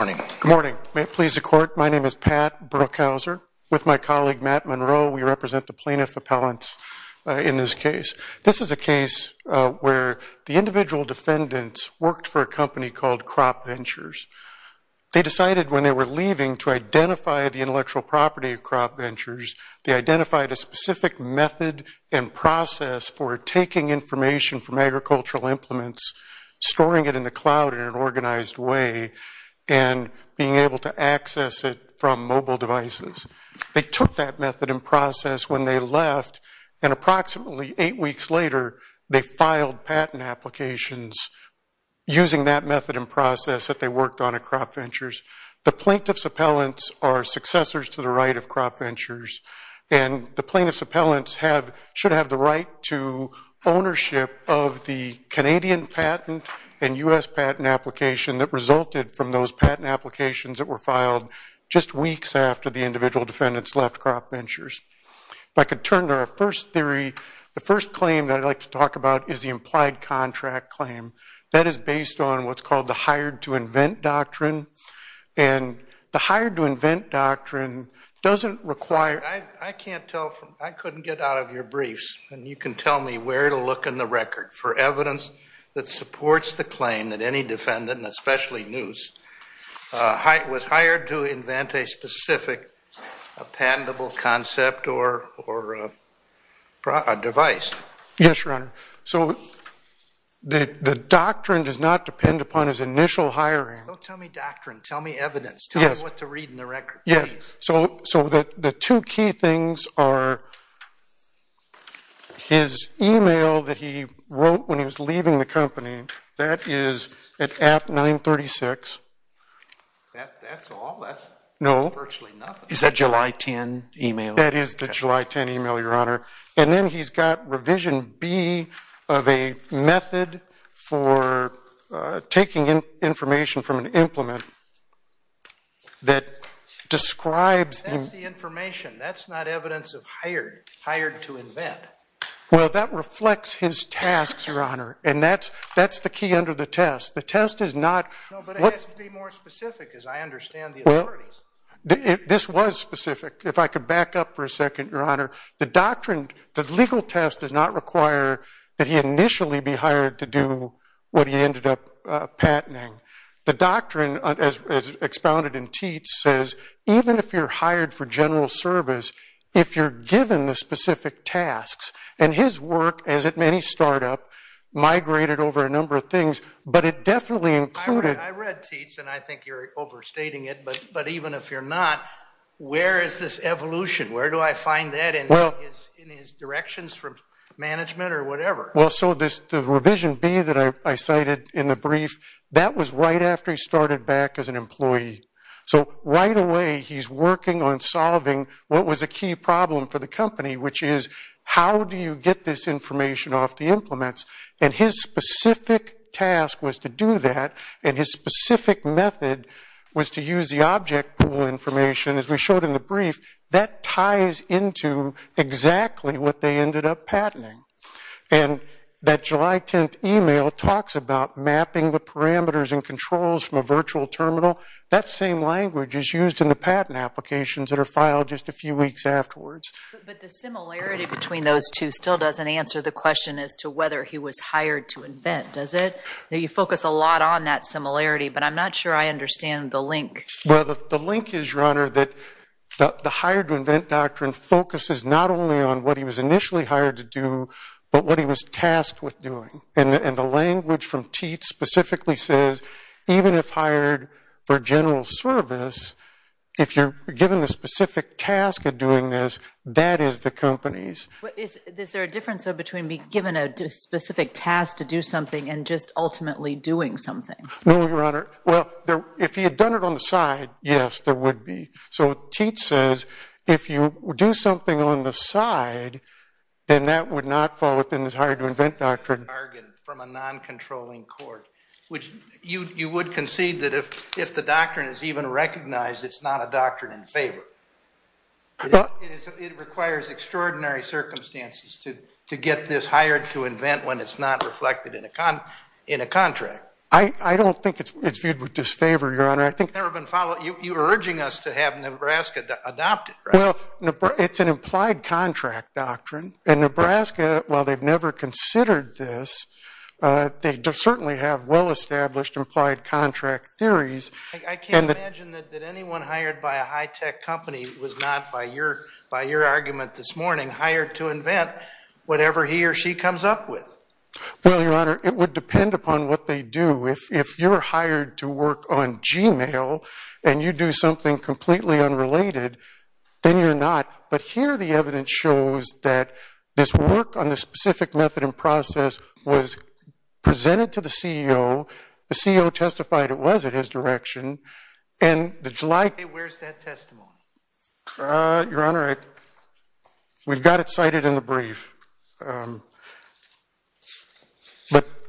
Good morning. May it please the Court, my name is Pat Brookhauser, with my colleague Matt Monroe, we represent the plaintiff appellants in this case. This is a case where the individual defendants worked for a company called Crop Ventures. They decided when they were leaving to identify the intellectual property of Crop Ventures, they identified a specific method and process for taking information from agricultural implements, storing it in the cloud in an application, being able to access it from mobile devices. They took that method and process when they left, and approximately eight weeks later, they filed patent applications using that method and process that they worked on at Crop Ventures. The plaintiff's appellants are successors to the right of Crop Ventures, and the plaintiff's appellants should have the right to ownership of the Canadian patent and U.S. patent application that resulted from those patent applications that were filed just weeks after the individual defendants left Crop Ventures. If I could turn to our first theory, the first claim that I'd like to talk about is the implied contract claim. That is based on what's called the hired to invent doctrine, and the hired to invent doctrine doesn't require... I can't tell from, I couldn't get out of your briefs, and you can tell me where to look in the record for evidence that supports the claim that any defendant, and especially Neuse, was hired to invent a specific patentable concept or device. Yes, Your Honor. So the doctrine does not depend upon his initial hiring. Don't tell me doctrine. Tell me evidence. Tell me what to read in the record, please. So the two key things are his email that he wrote when he was leaving the company. That is at app 936. That's all? No. That's virtually nothing. Is that July 10 email? That is the July 10 email, Your Honor. And then he's got revision B of a method for taking information from an implement that describes... That's the information. That's not evidence of hired. Hired to invent. Well, that reflects his tasks, Your Honor, and that's the key under the test. The test is not... No, but it has to be more specific, as I understand the authorities. This was specific. If I could back up for a second, Your Honor. The doctrine, the legal test does not require that he initially be hired to do what he ended up patenting. The doctrine, as expounded in Teats, says even if you're hired for general service, if you're given the specific tasks, and his work, as at many startup, migrated over a number of things, but it definitely included... I read Teats, and I think you're overstating it, but even if you're not, where is this coming from? Management or whatever? Well, so the revision B that I cited in the brief, that was right after he started back as an employee. So right away, he's working on solving what was a key problem for the company, which is, how do you get this information off the implements? And his specific task was to do that, and his specific method was to use the object pool information, as we call it, patenting. And that July 10th email talks about mapping the parameters and controls from a virtual terminal. That same language is used in the patent applications that are filed just a few weeks afterwards. But the similarity between those two still doesn't answer the question as to whether he was hired to invent, does it? You focus a lot on that similarity, but I'm not sure I understand the link. Well, the link is, Your Honor, that the hired to invent doctrine focuses not only on what he was initially hired to do, but what he was tasked with doing. And the language from Teat specifically says, even if hired for general service, if you're given a specific task of doing this, that is the company's. Is there a difference, though, between being given a specific task to do something and just ultimately doing something? No, Your Honor. Well, if he had done it on the side, yes, there would be. So Teat says, if you do something on the side, then that would not fall within his hired to invent doctrine. From a non-controlling court, which you would concede that if the doctrine is even recognized, it's not a doctrine in favor. It requires extraordinary circumstances to get this hired to invent when it's not reflected in a contract. I don't think it's viewed with disfavor, Your Honor. You're urging us to have Nebraska adopt it, right? Well, it's an implied contract doctrine. And Nebraska, while they've never considered this, they certainly have well-established implied contract theories. I can't imagine that anyone hired by a high-tech company was not, by your argument this morning, hired to invent whatever he or she comes up with. Well, Your Honor, it would depend upon what they do. If you're hired to work on Gmail and you do something completely unrelated, then you're not. But here the evidence shows that this work on this specific method and process was presented to the CEO, the CEO testified it was in his direction, and the July... Where's that testimony? Your Honor, we've got it cited in the brief. But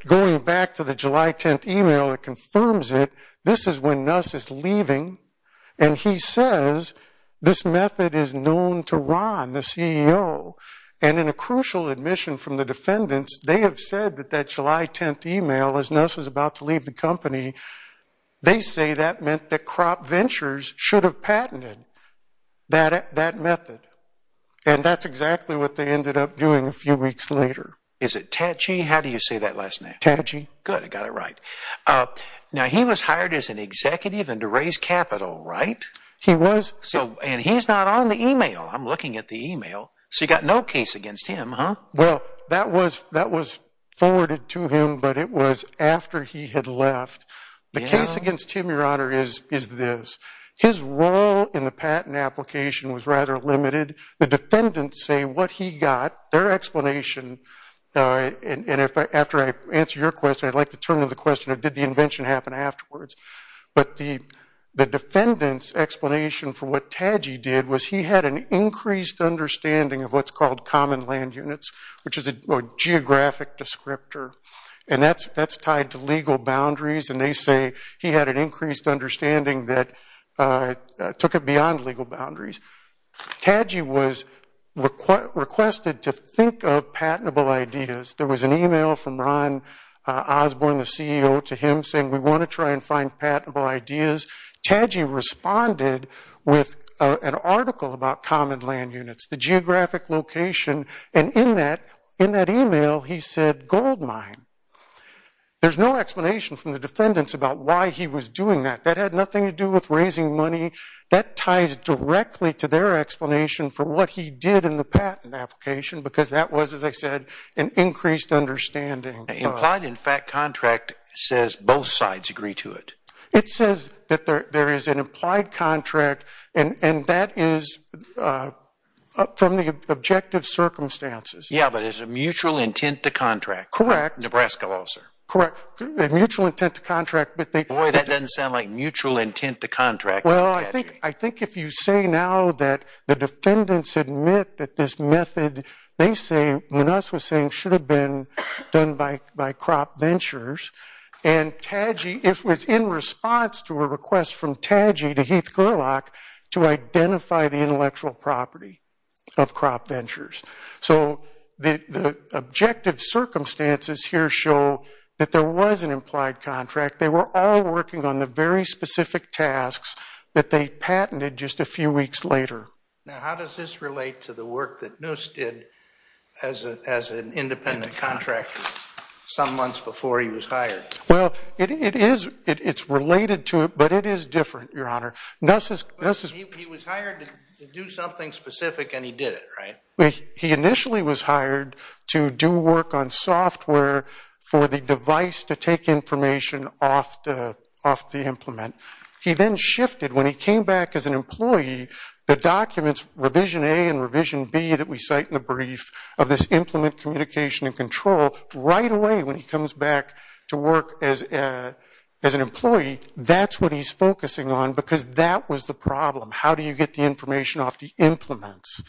going back to the July 10th email that confirms it, this is when Nuss is leaving and he says this method is known to Ron, the CEO. And in a crucial admission from the defendants, they have said that that July 10th email, as Nuss was about to leave the company, they say that meant that Kropp Ventures should have patented that method. And that's exactly what they ended up doing a few weeks later. Is it Tatchy? How do you say that last name? Tatchy. Good, I got it right. Now he was hired as an executive and to raise capital, right? He was. And he's not on the email. I'm looking at the email. So you've got no case against him, huh? Well, that was forwarded to him, but it was after he had left. The case against him, Your Honor, is this. His role in the patent application was rather limited. The defendants say what he got, their explanation, and after I answer your question, I'd like to turn to the question of did the invention happen afterwards. But the defendant's explanation for what Tatchy did was he had an increased understanding of what's called common land units, which is a geographic descriptor. And that's tied to legal boundaries. And they say he had an increased understanding that took it beyond legal boundaries. Tatchy was requested to think of patentable ideas. There was an email from Ron Osborne, the CEO, to him saying, we want to try and find patentable ideas. Tatchy responded with an article about common land units, the geographic location, and in that email he said gold mine. There's no explanation from the defendants about why he was doing that. That had nothing to do with raising money. That ties directly to their explanation for what he did in the patent application because that was, as I said, an increased understanding. Implied, in fact, contract says both sides agree to it. It says that there is an implied contract and that is from the objective circumstances. Yeah, but it's a mutual intent to contract. Correct. Nebraska law, sir. Correct. Mutual intent to contract. Boy, that doesn't sound like mutual intent to contract. Well, I think if you say now that the defendants admit that this method, they say, when us was saying should have been done by crop ventures, and Tatchy, if it was in response to a request from Tatchy to Heath Gerlach to identify the intellectual property of crop ventures. So the objective circumstances here show that there was an implied contract. They were all working on the very specific tasks that they patented just a few weeks later. Now, how does this relate to the work that Noose did as an independent contractor some months before he was hired? Well, it is. It's related to it, but it is different, your honor. Noose is He was hired to do something specific and he did it, right? He initially was hired to do work on software for the device to take information off the implement. He then shifted when he came back as an employee the documents revision A and revision B that we cite in the brief of this implement communication and control. Right away when he comes back to work as an employee, that's what he's focusing on because that was the problem. How do you get the information off the implements?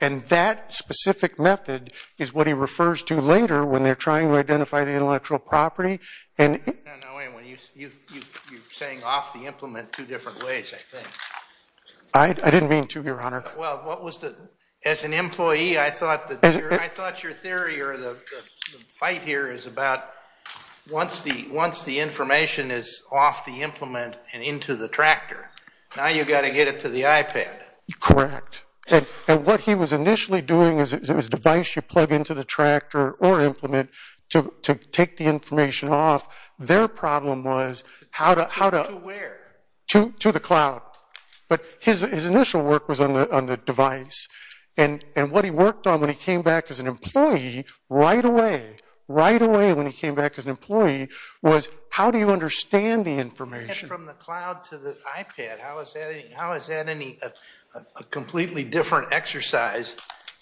And that specific method is what he refers to later when they're trying to identify the intellectual property. No, no, wait a minute. You're saying off the implement two different ways, I think. I didn't mean to, your honor. Well, as an employee, I thought your theory or the fight here is about once the information is off the implement and into the tractor, now you've got to get it to the iPad. Correct. And what he was initially doing is it was device you plug into the tractor or implement to take the information off. Their problem was how to To where? To the cloud. But his initial work was on the device. And what he worked on when he came back as an employee, right away, right away when he came back as an employee, was how do you understand the information? From the cloud to the iPad. How is that a completely different exercise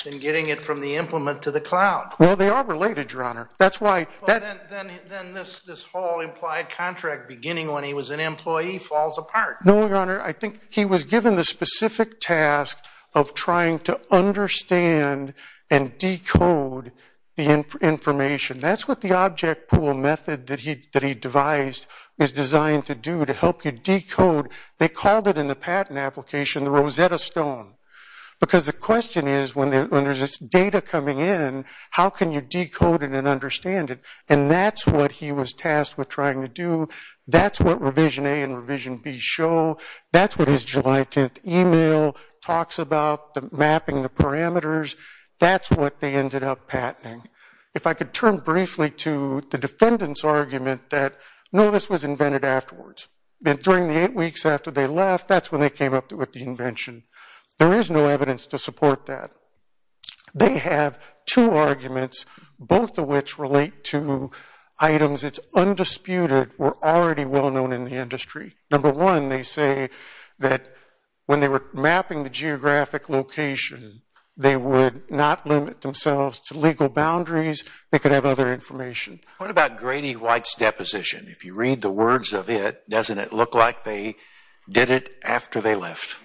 than getting it from the implement to the cloud? Well, they are related, your honor. Then this whole implied contract beginning when he was an employee falls apart. No, your honor. I think he was given the specific task of trying to understand and decode the information. That's what the object pool method that he devised is designed to do to help you decode. They called it in the patent application the Rosetta Stone because the question is when there's this data coming in, how can you decode it and understand it? And that's what he was tasked with trying to do. That's what Revision A and Revision B show. That's what his July 10th email talks about, the mapping, the parameters. That's what they ended up patenting. If I could turn briefly to the defendant's argument that no, this was invented afterwards. During the eight weeks after they left, that's when they came up with the invention. There is no evidence to support that. They have two arguments, both of which relate to items that because it's undisputed were already well known in the industry. Number one, they say that when they were mapping the geographic location, they would not limit themselves to legal boundaries. They could have other information. What about Grady White's deposition? If you read the words of it, doesn't it look like they did it after they left?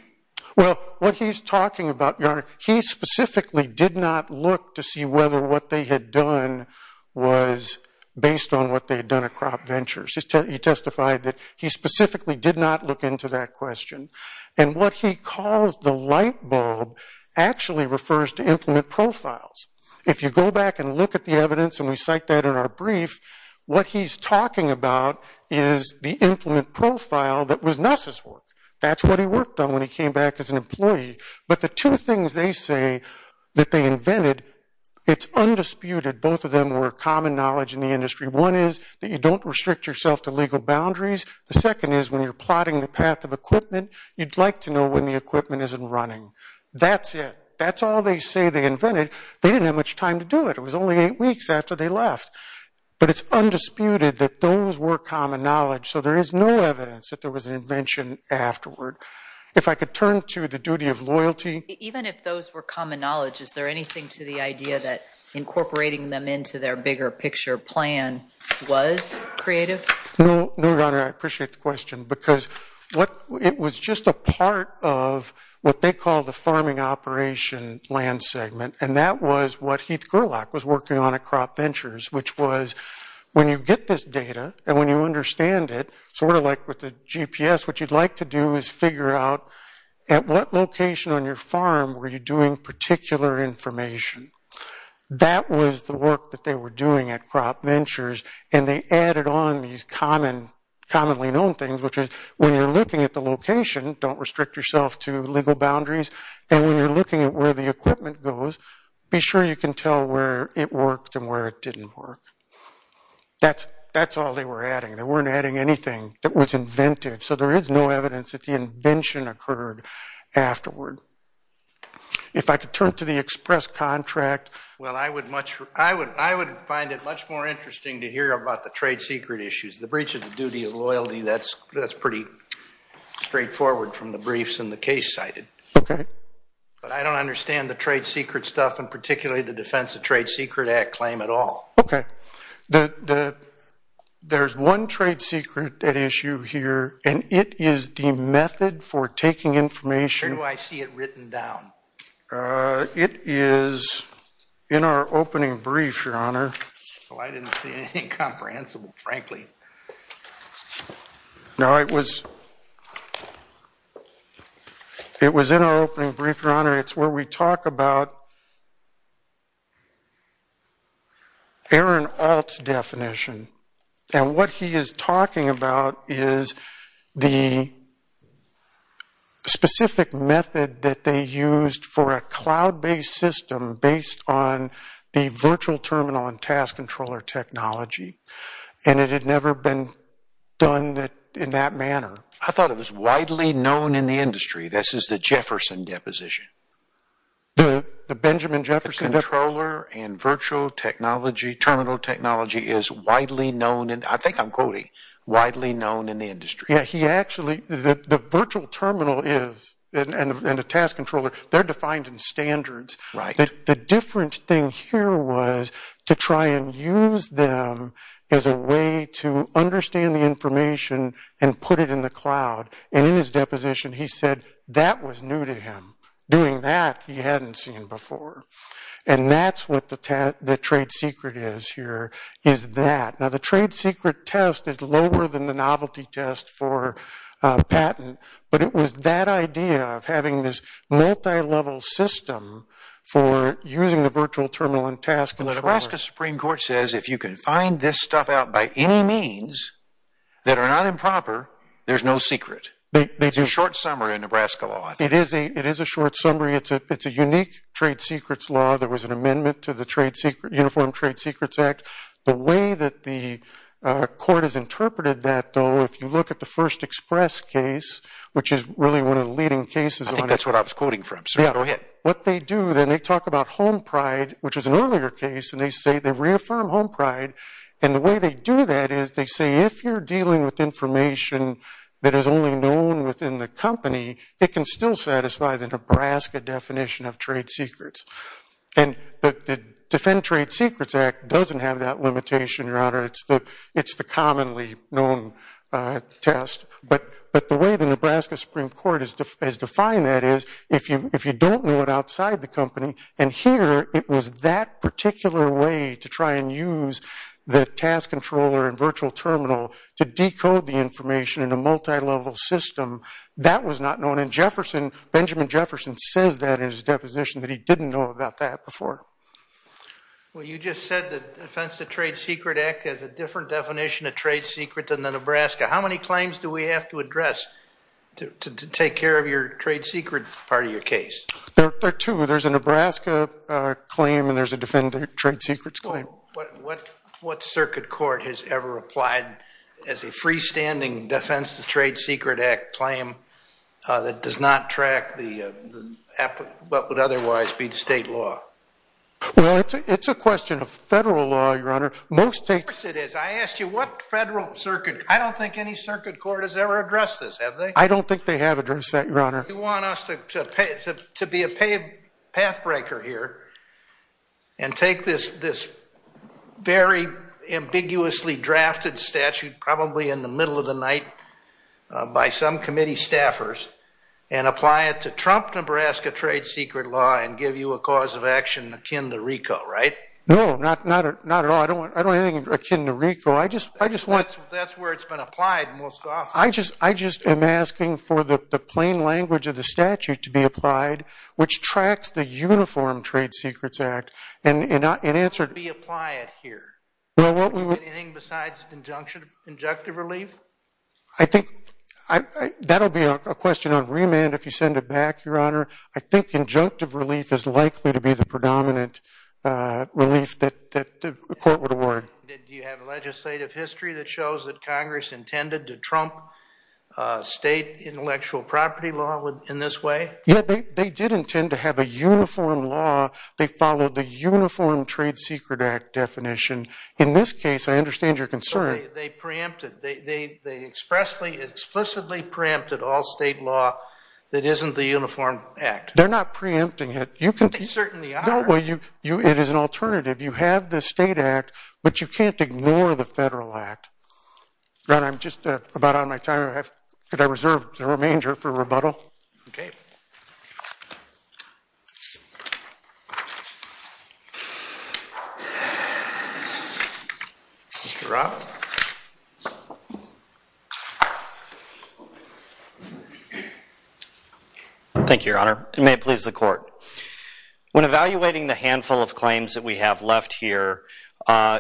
Well, what he's talking about, your honor, he specifically did not look to see whether what they had done was based on what they had done at Crop Ventures. He testified that he specifically did not look into that question. And what he calls the light bulb actually refers to implement profiles. If you go back and look at the evidence and we cite that in our brief, what he's talking about is the implement profile that was Nuss's work. That's what he worked on when he came back as an employee. But the two things they say that they invented, it's undisputed both of them were common knowledge in the industry. One is that you don't restrict yourself to legal boundaries. The second is when you're plotting the path of equipment, you'd like to know when the equipment isn't running. That's it. That's all they say they invented. They didn't have much time to do it. It was only eight weeks after they left. But it's undisputed that those were common knowledge. So there is no evidence that there was an invention afterward. If I could turn to the duty of loyalty. Even if those were common knowledge, is there anything to the idea that incorporating them into their bigger picture plan was creative? No. No, Your Honor. I appreciate the question because it was just a part of what they call the farming operation land segment. And that was what Heath Gerlach was working on at Crop Ventures which was when you get this data and when you understand it, sort of like with the GPS, what you'd like to do is figure out at what location on your farm were you doing particular information? That was the work that they were doing at Crop Ventures and they added on these commonly known things which is when you're looking at the location don't restrict yourself to legal boundaries and when you're looking at where the equipment goes, be sure you can tell where it worked and where it didn't work. That's all they were adding. They weren't adding anything that was inventive. So there is no evidence that the invention occurred afterward. If I could turn to the express contract Well, I would much find it much more interesting to hear about the trade secret issues. The breach of the duty of loyalty, that's pretty straightforward from the briefs and the case cited. But I don't understand the trade secret stuff and particularly the defense of trade secret act claim at all. Okay. There's one trade secret at issue here and it is the method for taking information Where do I see it written down? It is in our opening brief your honor. Well, I didn't see anything comprehensible, frankly. No, it was it was in our opening brief, your honor. It's where we talk about Aaron Alt's definition and what he is talking about is the specific method that they used for a cloud-based system based on the virtual terminal and task controller technology and it had never been done in that manner. I thought it was widely known in the industry. This is the Jefferson deposition. The Benjamin Jefferson deposition? The task controller and virtual technology terminal technology is widely known. I think I'm quoting widely known in the industry. The virtual terminal and the task controller they're defined in standards. The different thing here was to try and use them as a way to understand the information and put it in the cloud and in his deposition he said that was new to him. Doing that he hadn't seen before. And that's what the trade secret is here is that. Now the trade secret test is lower than the novelty test for patent but it was that idea of having this multi-level system for using the virtual terminal and task controller. The Nebraska Supreme Court says if you can find this stuff out by any means that are not improper, there's no secret. It's a short summary of Nebraska law. It is a short summary. It's a unique trade secrets law. There was an amendment to the Uniform Trade Secrets Act. The way that the court has interpreted that though, if you look at the first express case which is really one of the leading cases. I think that's what I was quoting from. They talk about home pride which is an earlier case and they say they reaffirm home pride and the way they do that is they say if you're known within the company it can still satisfy the Nebraska definition of trade secrets. The Defend Trade Secrets Act doesn't have that limitation your honor. It's the commonly known test but the way the Nebraska Supreme Court has defined that is if you don't know it outside the company and here it was that particular way to try and use the task controller and virtual terminal to decode the information in a multi-level system that was not known and Jefferson Benjamin Jefferson says that in his deposition that he didn't know about that before. Well you just said the Defense of Trade Secret Act has a different definition of trade secret than the Nebraska. How many claims do we have to address to take care of your trade secret part of your case? There are two. There's a Nebraska claim and there's a Defend Trade Secrets claim. What circuit court has ever applied as a freestanding Defense of Trade Secret Act claim that does not track what would otherwise be the state law? Well it's a question of federal law your honor. Of course it is. I asked you what federal circuit, I don't think any circuit court has ever addressed this have they? I don't think they have addressed that your honor. You want us to be a path breaker here and take this very ambiguously drafted statute probably in the middle of the night by some committee staffers and apply it to trump Nebraska trade secret law and give you a cause of action akin to RICO right? No not at all. I don't anything akin to RICO. That's where it's been applied most often. I just am asking for the plain language of the statute to be applied which tracks the uniform Trade Secrets Act and answer anything besides injunctive relief? I think that will be a question on remand if you send it back your honor. I think injunctive relief is likely to be the predominant relief that the court would award. Do you have a legislative history that shows that congress intended to trump state intellectual property law in this way? Yeah they did intend to have a uniform law. They followed the uniform Trade Secret Act definition. In this case I understand your concern. They preempted. They explicitly preempted all state law that isn't the uniform act. They're not preempting it. They certainly are. It is an alternative. You have the state act but you can't ignore the federal act. Ron I'm just about out of my time. Could I reserve the remainder for rebuttal? Okay. Mr. Roth. Thank you your honor. May it please the court. When evaluating the handful of claims that we have left here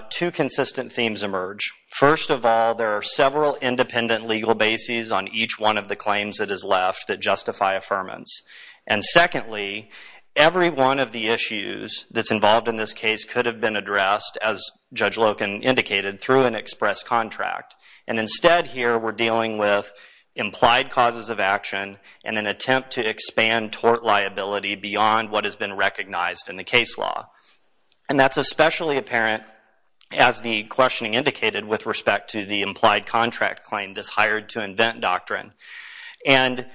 two consistent themes emerge. First of all there are several independent legal bases on each one of the claims that is left that justify affirmance. And secondly every one of the issues that's involved in this case could have been addressed as Judge Loken indicated through an express contract. And instead here we're dealing with implied causes of action and an attempt to expand tort liability beyond what has been recognized in the case law. And that's especially apparent as the questioning indicated with respect to the implied contract claim this hired to invent doctrine. And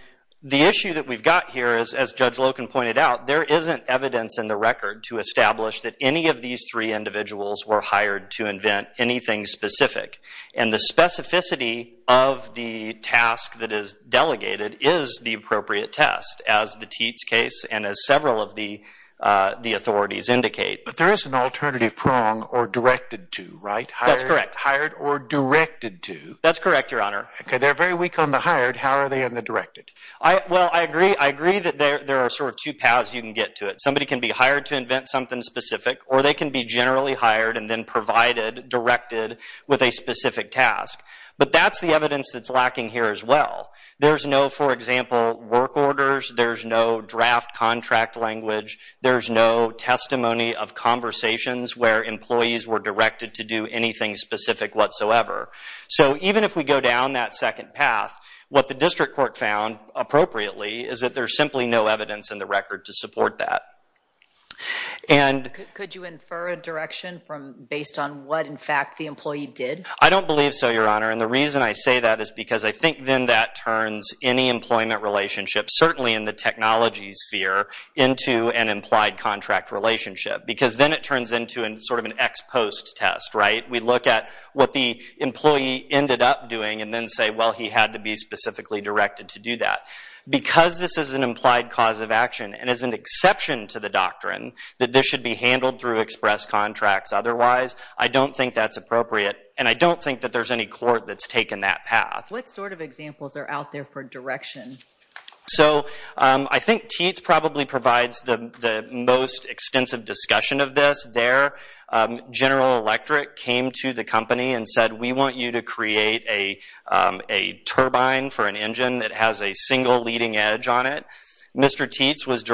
the issue that we've got here is as Judge Loken pointed out there isn't evidence in the record to establish that any of these three individuals were hired to invent anything specific. And the specificity of the task that is delegated is the appropriate test as the Teats case and as several of the authorities indicate. But there is an alternative prong or directed to right? That's correct. Hired or directed to? That's correct your honor. They're very weak on the hired how are they on the directed? I agree that there are sort of two paths you can get to it. Somebody can be hired to invent something specific or they can be generally hired and then provided, directed with a specific task. But that's the evidence that's lacking here as well. There's no for example work orders, there's no draft contract language, there's no testimony of conversations where employees were directed to do anything specific whatsoever. So even if we go down that second path, what the district court found appropriately is that there's simply no evidence in the record to support that. Could you infer a direction based on what in fact the employee did? I don't believe so your honor and the reason I say that is because I think then that turns any employment relationship, certainly in the technology sphere, into an implied contract relationship. Because then it turns into sort of an ex-post test, right? We look at what the employee ended up doing and then say well he had to be specifically directed to do that. Because this is an implied cause of action and is an exception to the doctrine that this should be handled through express contracts otherwise, I don't think that's appropriate and I don't think that there's any court that's taken that path. What sort of examples are out there for direction? So I think Teats probably provides the most extensive discussion of this there. General Electric came to the company and said we want you to create a turbine for an engine that has a single leading edge on it. Mr. Teats was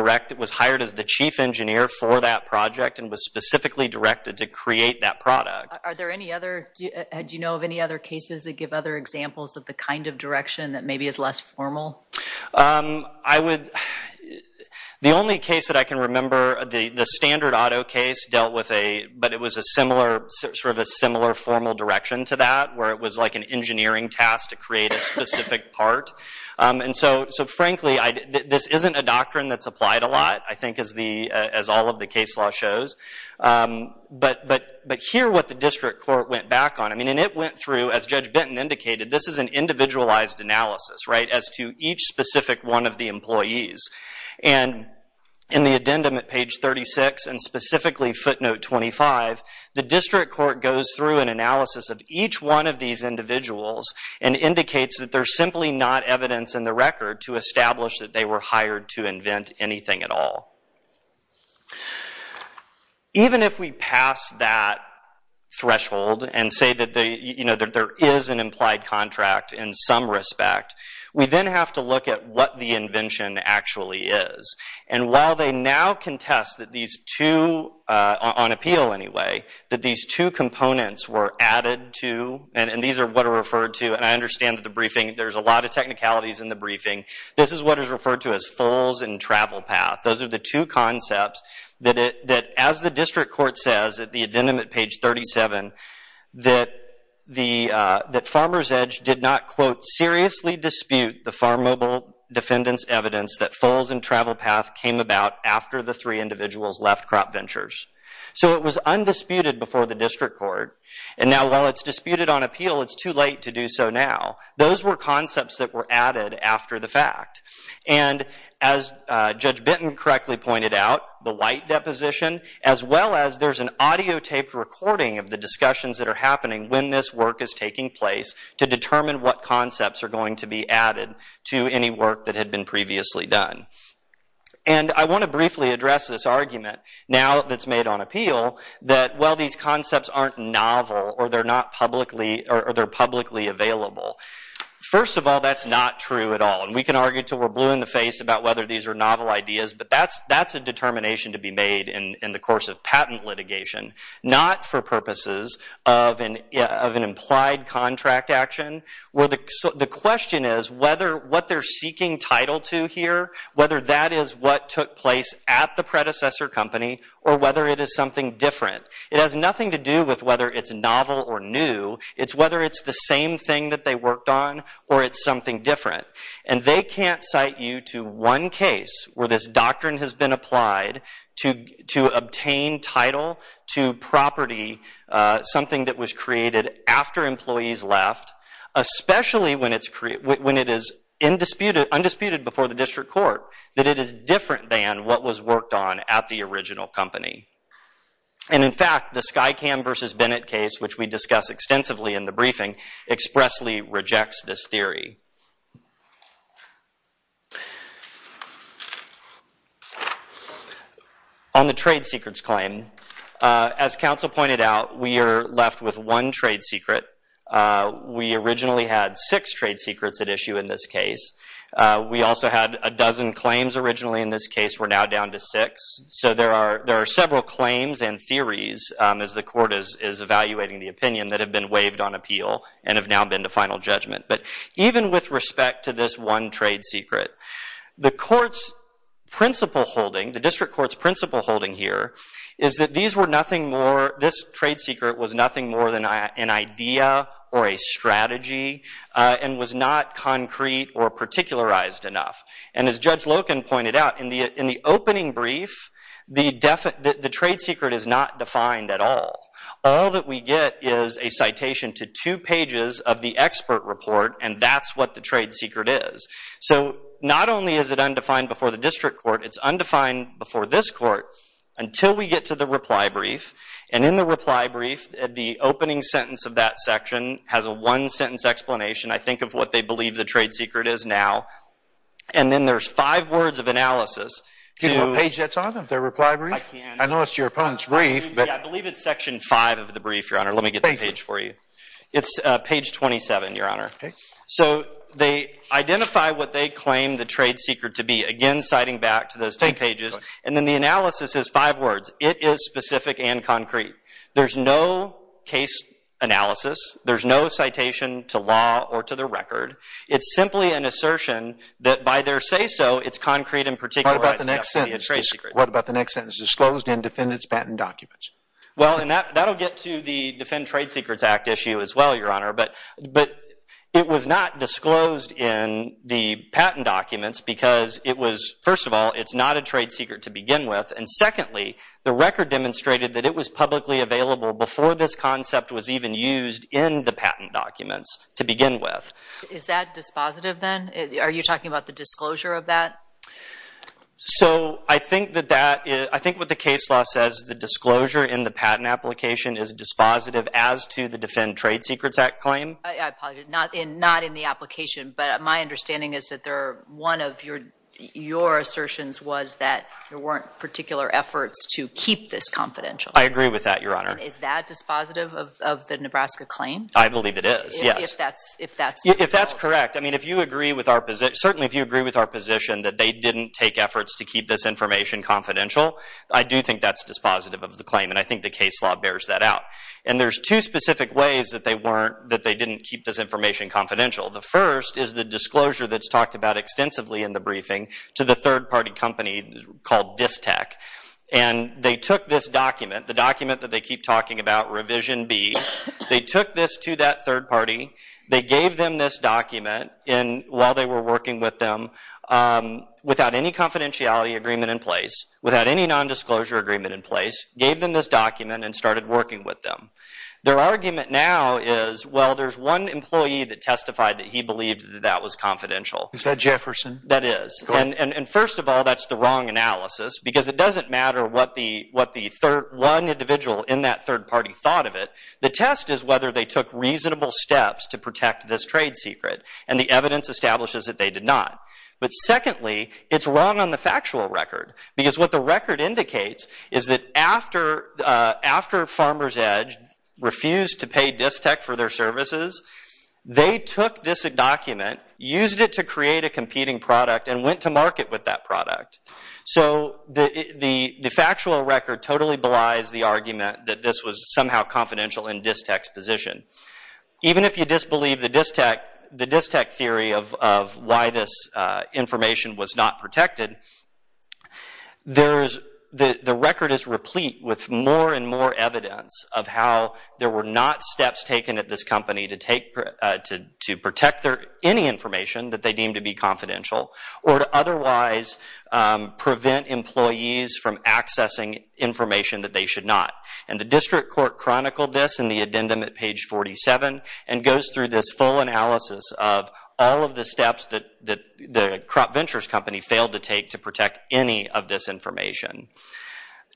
hired as the chief engineer for that project and was specifically directed to create that product. Are there any other, do you know of any other cases that give other examples of the kind of direction that maybe is less formal? I would the only case that I can remember the standard auto case dealt with a, but it was a similar sort of a similar formal direction to that where it was like an engineering task to create a specific part and so frankly this isn't a doctrine that's applied a lot I think as all of the case law shows, but here what the district court went back on, and it went through as Judge Benton indicated, this is an individualized analysis as to each specific one of the employees and in the addendum at page 36 and specifically footnote 25, the district court goes through an analysis of each one of these individuals and indicates that there's simply not evidence in the record to establish that they were hired to invent anything at all. Even if we pass that threshold and say that there is an implied contract in some respect, we then have to look at what the invention actually is. And while they now contest that these two on appeal anyway, that these two components were added to and these are what are referred to and I understand that there's a lot of technicalities in the briefing, this is what is referred to as foals and travel path. Those are the two concepts that as the district court says at the addendum at page 37 that Farmers Edge did not seriously dispute the farm mobile defendants evidence that foals and travel path came about after the three individuals left crop ventures. So it was undisputed before the district court and now while it's disputed on appeal, it's too late to do so now. Those were concepts that were added after the fact and as Judge Benton correctly pointed out, the white deposition as well as there's an audio taped recording of the discussions that are happening when this work is taking place to determine what concepts are going to be added to any work that had been previously done. I want to briefly address this argument now that's made on appeal that these concepts aren't novel or they're publicly available. First of all that's not true at all and we can argue until we're blue in the face about whether these are novel ideas but that's a determination to be made in the course of patent litigation not for purposes of an implied contract action. The question is whether what they're seeking title to here, whether that is what took place at the predecessor company or whether it is something different. It has nothing to do with whether it's novel or new. It's whether it's the same thing that they worked on or it's something different and they can't cite you to one case where this doctrine has been applied to obtain title to property something that was created after employees left especially when it is undisputed before the district court that it is different than what was worked on at the original company and in fact the Skycam versus Bennett case which we discuss extensively in the briefing expressly rejects this theory. On the trade secrets claim as counsel pointed out we are left with one trade secret we originally had six trade secrets at issue in this case we also had a dozen claims originally in this case we're now down to six so there are several claims and theories as the court is evaluating the opinion that have been waived on appeal and have now been to final judgment but even with respect to this one trade secret the court's principle holding the district court's principle holding here is that these were nothing more this trade secret was nothing more than an idea or a strategy and was not concrete or particularized enough and as Judge Loken pointed out in the opening brief the trade secret is not defined at all all that we get is a citation to two pages of the expert report and that's what the trade secret is so not only is it undefined before the district court it's undefined before this court until we get to the reply brief and in the reply brief the opening sentence of that section has a one sentence explanation I think of what they believe the trade secret is now and then there's five words of analysis Give them a page that's on them their reply brief I know it's your opponent's brief but I believe it's section five of the brief your honor let me get the page for you it's page 27 your honor so they identify what they claim the trade secret to be again citing back to those two pages and then the analysis is five words it is specific and concrete there's no case analysis there's no citation to law or to the record it's simply an assertion that by their say so it's concrete and particularized What about the next sentence disclosed in defendant's patent documents well and that will get to the defend trade secrets act issue as well your honor but it was not disclosed in the patent documents because it was first of all it's not a trade secret to begin with and secondly the record demonstrated that it was publicly available before this concept was even used in the patent documents to begin with. Is that dispositive then? Are you talking about the disclosure of that? So I think that that is I think what the case law says the disclosure in the patent application is dispositive as to the defend trade secrets act claim. I apologize not in the application but my understanding is that there are one of your your assertions was that there weren't particular efforts to keep this confidential. I agree with that your honor Is that dispositive of the Nebraska claim? I believe it is yes If that's correct I mean if you agree with our position certainly if you agree with our position that they didn't take efforts to keep this information confidential I do think that's dispositive of the claim and I think the case law bears that out and there's two specific ways that they weren't that they didn't keep this information confidential the first is the disclosure that's talked about extensively in the briefing to the third party company called DISTEC and they took this document the document that they keep talking about revision B they took this to that third party they gave them this document and while they were working with them without any confidentiality agreement in place without any non-disclosure agreement in place gave them this document and started working with them their argument now is well there's one employee that testified that he believed that that was confidential Is that Jefferson? That is and first of all that's the wrong analysis because it doesn't matter what the one individual in that third party thought of it the test is whether they took reasonable steps to protect this trade secret and the evidence establishes that they did not but secondly it's wrong on the factual record because what the record indicates is that after after Farmer's Edge refused to pay DISTEC for their services they took this document used it to create a competing product and went to market with that product so the factual record totally belies the argument that this was somehow confidential in DISTEC's position even if you disbelieve the DISTEC theory of why this information was not protected there's the record is replete with more and more evidence of how there were not steps taken at this company to take to protect any information that they deem to be confidential or to otherwise prevent employees from accessing information that they should not and the district court chronicled this in the addendum at page 47 and goes through this full analysis of all of the steps that the crop ventures company failed to take to protect any of this information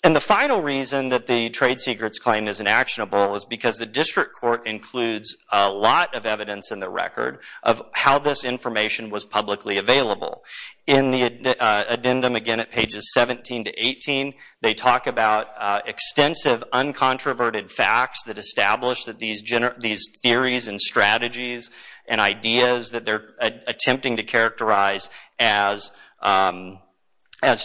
and the final reason that the trade secrets claim is inactionable is because the district court includes a lot of evidence in the record of how this information was publicly available in the addendum again at pages 17 to 18 they talk about extensive uncontroverted facts that establish that these theories and strategies and ideas that they're attempting to characterize as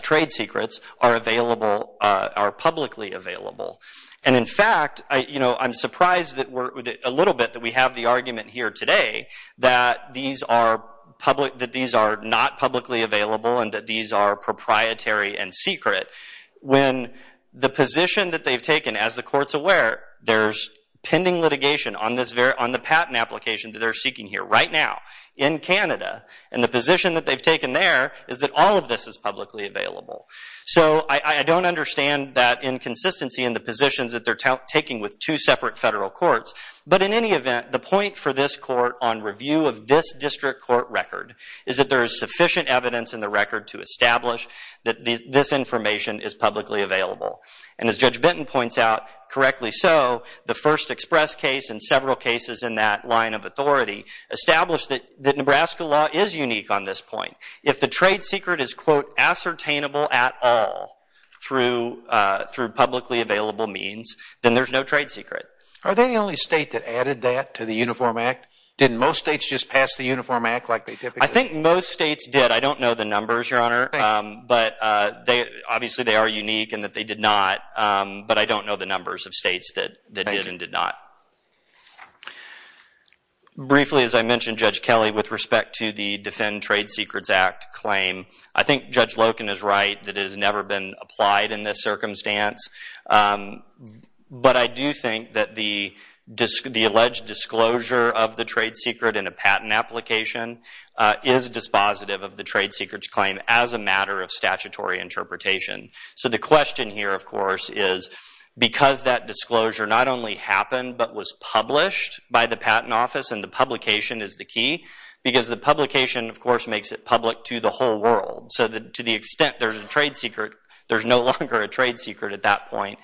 trade secrets are publicly available and in fact I'm surprised that a little bit that we have the argument here today that these are not publicly available and that these are proprietary and secret when the position that they've taken as the court's aware there's pending litigation on the patent application that they're seeking here right now in Canada and the position that they've taken there is that all of this is publicly available so I don't understand that inconsistency in the positions that they're taking with two separate federal courts but in any event the point for this court on review of this district court record is that there is sufficient evidence in the record to establish that this information is publicly available and as Judge Benton points out correctly so the first express case and several cases in that line of authority established that Nebraska law is unique on this point if the trade secret is quote ascertainable at all through publicly available means then there's no trade secret Are they the only state that added that to the Uniform Act? Didn't most states just pass the Uniform Act like they typically did? I think most states did I don't know the numbers your honor but obviously they are unique and that they did not but I don't know the numbers of states that did and did not Briefly as I mentioned Judge Kelly with respect to the Defend Trade Secrets Act claim I think Judge Loken is right that it has never been applied in this circumstance but I do think that the alleged disclosure of the trade secret in a patent application is dispositive of the trade secrets claim as a matter of statutory interpretation so the question here of course is because that disclosure not only happened but was published by the patent office and the publication is the key because the publication of course makes it public to the whole world so to the extent there's a trade secret there's no longer a trade secret at that point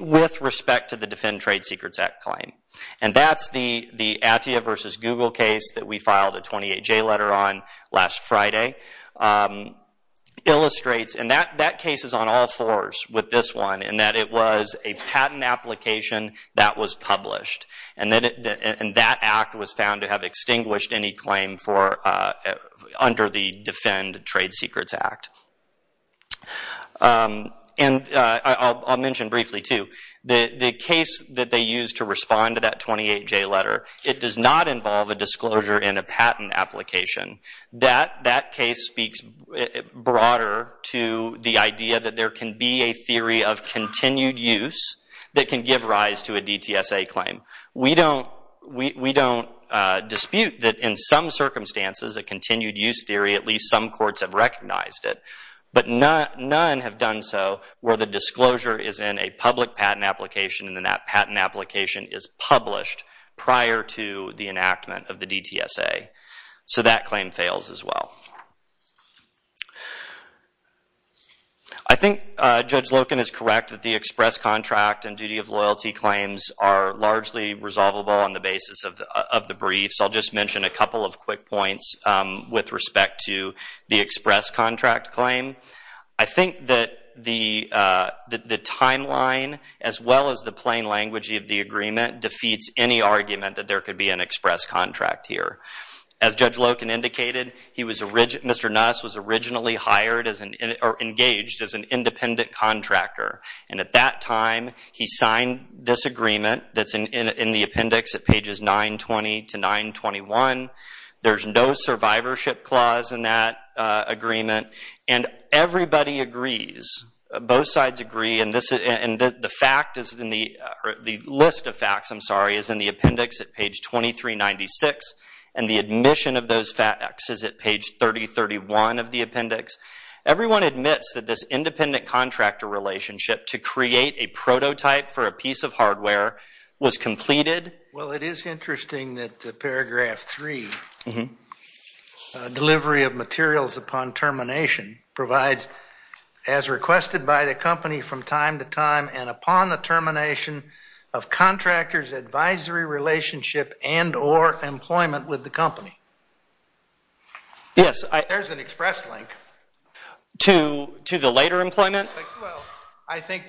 with respect to the Defend Trade Secrets Act claim and that's the Attia versus Google case that we filed a 28J letter on last Friday illustrates and that case is on all fours with this one in that it was a patent application that was published and that act was found to have extinguished any claim under the Defend Trade Secrets Act and I'll mention briefly too the case that they used to respond to that 28J letter it does not involve a disclosure in a patent application that case speaks broader to the idea that there can be a theory of continued use that can give rise to a DTSA claim. We don't dispute that in some circumstances a continued use theory at least some courts have recognized it but none have done so where the disclosure is in a public patent application and then that patent application is published prior to the enactment of the DTSA so that claim fails as well. I think Judge Loken is correct that the express contract and duty of loyalty claims are largely resolvable on the basis of the brief so I'll just mention a couple of quick points with respect to the express contract claim. I think that the timeline as well as the plain language of the agreement defeats any argument that there could be an express contract here. As Judge Loken indicated Mr. Nuss was originally hired or engaged as an independent contractor and at that time he signed this agreement that's in the appendix at pages 920 to 921 there's no survivorship clause in that agreement and everybody agrees both sides agree and the fact is the list of facts is in the appendix at page 23 96 and the admission of those facts is at page 30 31 of the appendix. Everyone admits that this independent contractor relationship to create a prototype for a piece of hardware was completed. Well it is interesting that paragraph 3 delivery of materials upon termination provides as requested by the company from time to time and upon the termination of contractors advisory relationship and or employment with the company. There's an express link to the later employment? Well I think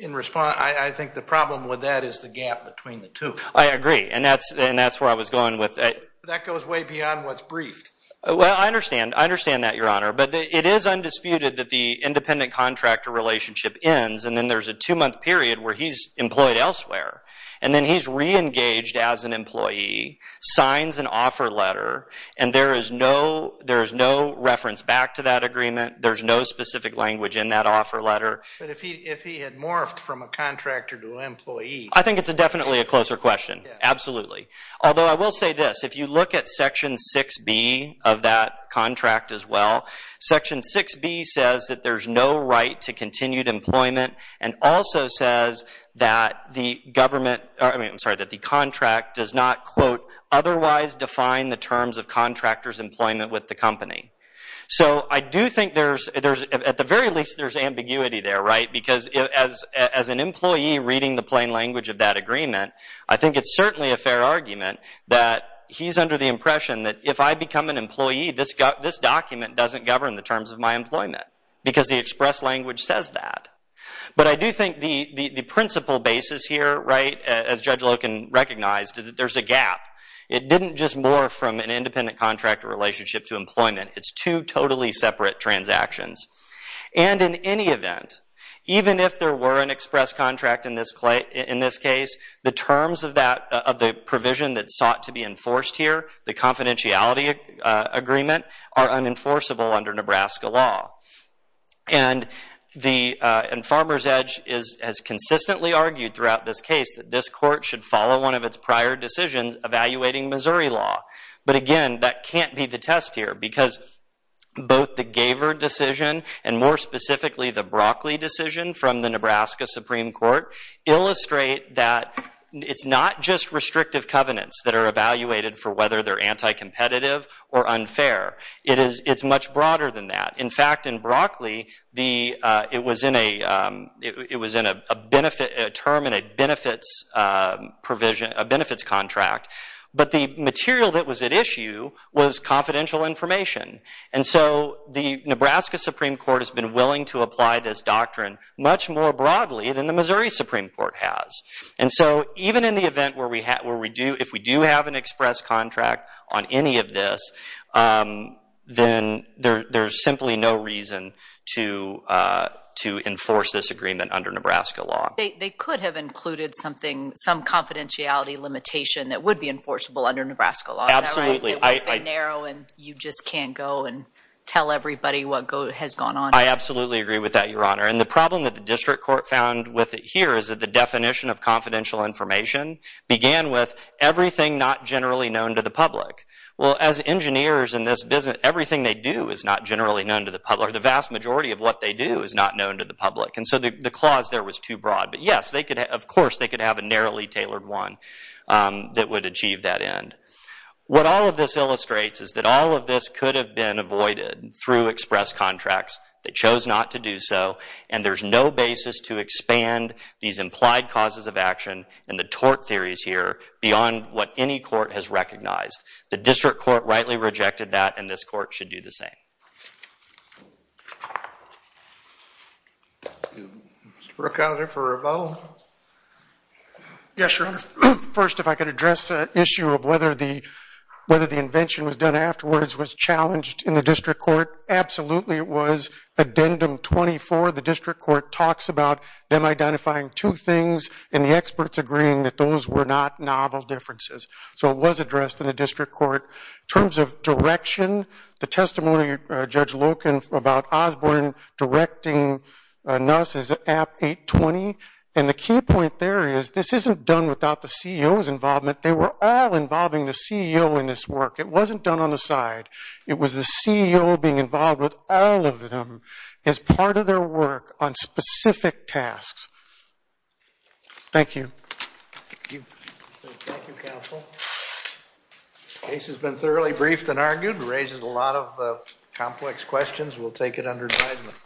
in response I think the problem with that is the gap between the two. I agree and that's where I was going with it. That goes way beyond what's briefed. Well I understand that your honor but it is undisputed that the independent contractor relationship ends and then there's a two month period where he's employed elsewhere and then he's reengaged as an employee, signs an offer letter and there is no reference back to that agreement, there's no specific language in that offer letter. But if he had morphed from a contractor to an employee. I think it's definitely a closer question, absolutely. Although I will say this, if you look at section 6B of that contract as well, section 6B says that there's no right to continued employment and also says that the contract does not quote, otherwise define the terms of contractors employment with the company. So I do think there's, at the very least there's ambiguity there right? Because as an employee reading the plain language of that agreement, I think it's certainly a fair argument that he's under the impression that if I become an employee, this document doesn't govern the terms of my employment. Because the express language says that. But I do think the principle basis here right, as Judge Loken recognized is that there's a gap. It didn't just morph from an independent contractor relationship to employment, it's two totally separate transactions. And in any event, even if there were an express contract in this case, the terms of the provision that's sought to be enforced here, the confidentiality agreement, are unenforceable under Nebraska law. And Farmer's Edge has consistently argued throughout this case that this court should follow one of its prior decisions evaluating Missouri law. But again, that can't be the test here because both the Gaver decision and more specifically the Broccoli decision from the Nebraska Supreme Court, illustrate that it's not just restrictive covenants that are evaluated for whether they're anti-competitive or unfair. It's much broader than that. In fact, in Broccoli, it was in a term in a benefits contract. But the material that was at issue was confidential information. And so the Nebraska Supreme Court has been willing to apply this doctrine much more broadly than the Missouri Supreme Court has. And so even in the event where we do, if we do have an express contract on any of this, then there's simply no reason to enforce this agreement under Nebraska law. They could have included something, some confidentiality limitation that would be enforceable under Nebraska law. Absolutely. It would be narrow and you just can't go and tell everybody what has gone on. I absolutely agree with that, Your Honor. And the problem that the district court found with it here is that the definition of confidential information began with everything not generally known to the public. Well, as engineers in this business, everything they do is not generally known to the public. The vast majority of what they do is not known to the public. And so the clause there was too broad. But yes, of course they could have a narrowly tailored one that would achieve that end. What all of this illustrates is that all of this could have been avoided through express contracts. They chose not to do so. And there's no basis to expand these implied causes of action and the tort theories here beyond what any court has recognized. The district court rightly rejected that and this court should do the same. Mr. Brookhouser for a vote? Yes, Your Honor. First, if I could address the issue of whether the invention was done by the district court, absolutely it was. Addendum 24, the district court talks about them identifying two things and the experts agreeing that those were not novel differences. So it was addressed in the district court. In terms of direction, the testimony of Judge Loken about Osborne directing NUSS is at 820. And the key point there is this isn't done without the CEO's involvement. They were all involving the CEO in this work. It wasn't done on the side. It was the CEO being involved with all of them as part of their work on specific tasks. Thank you. Thank you, counsel. The case has been thoroughly briefed and argued. It raises a lot of complex questions. We'll take it under advisement.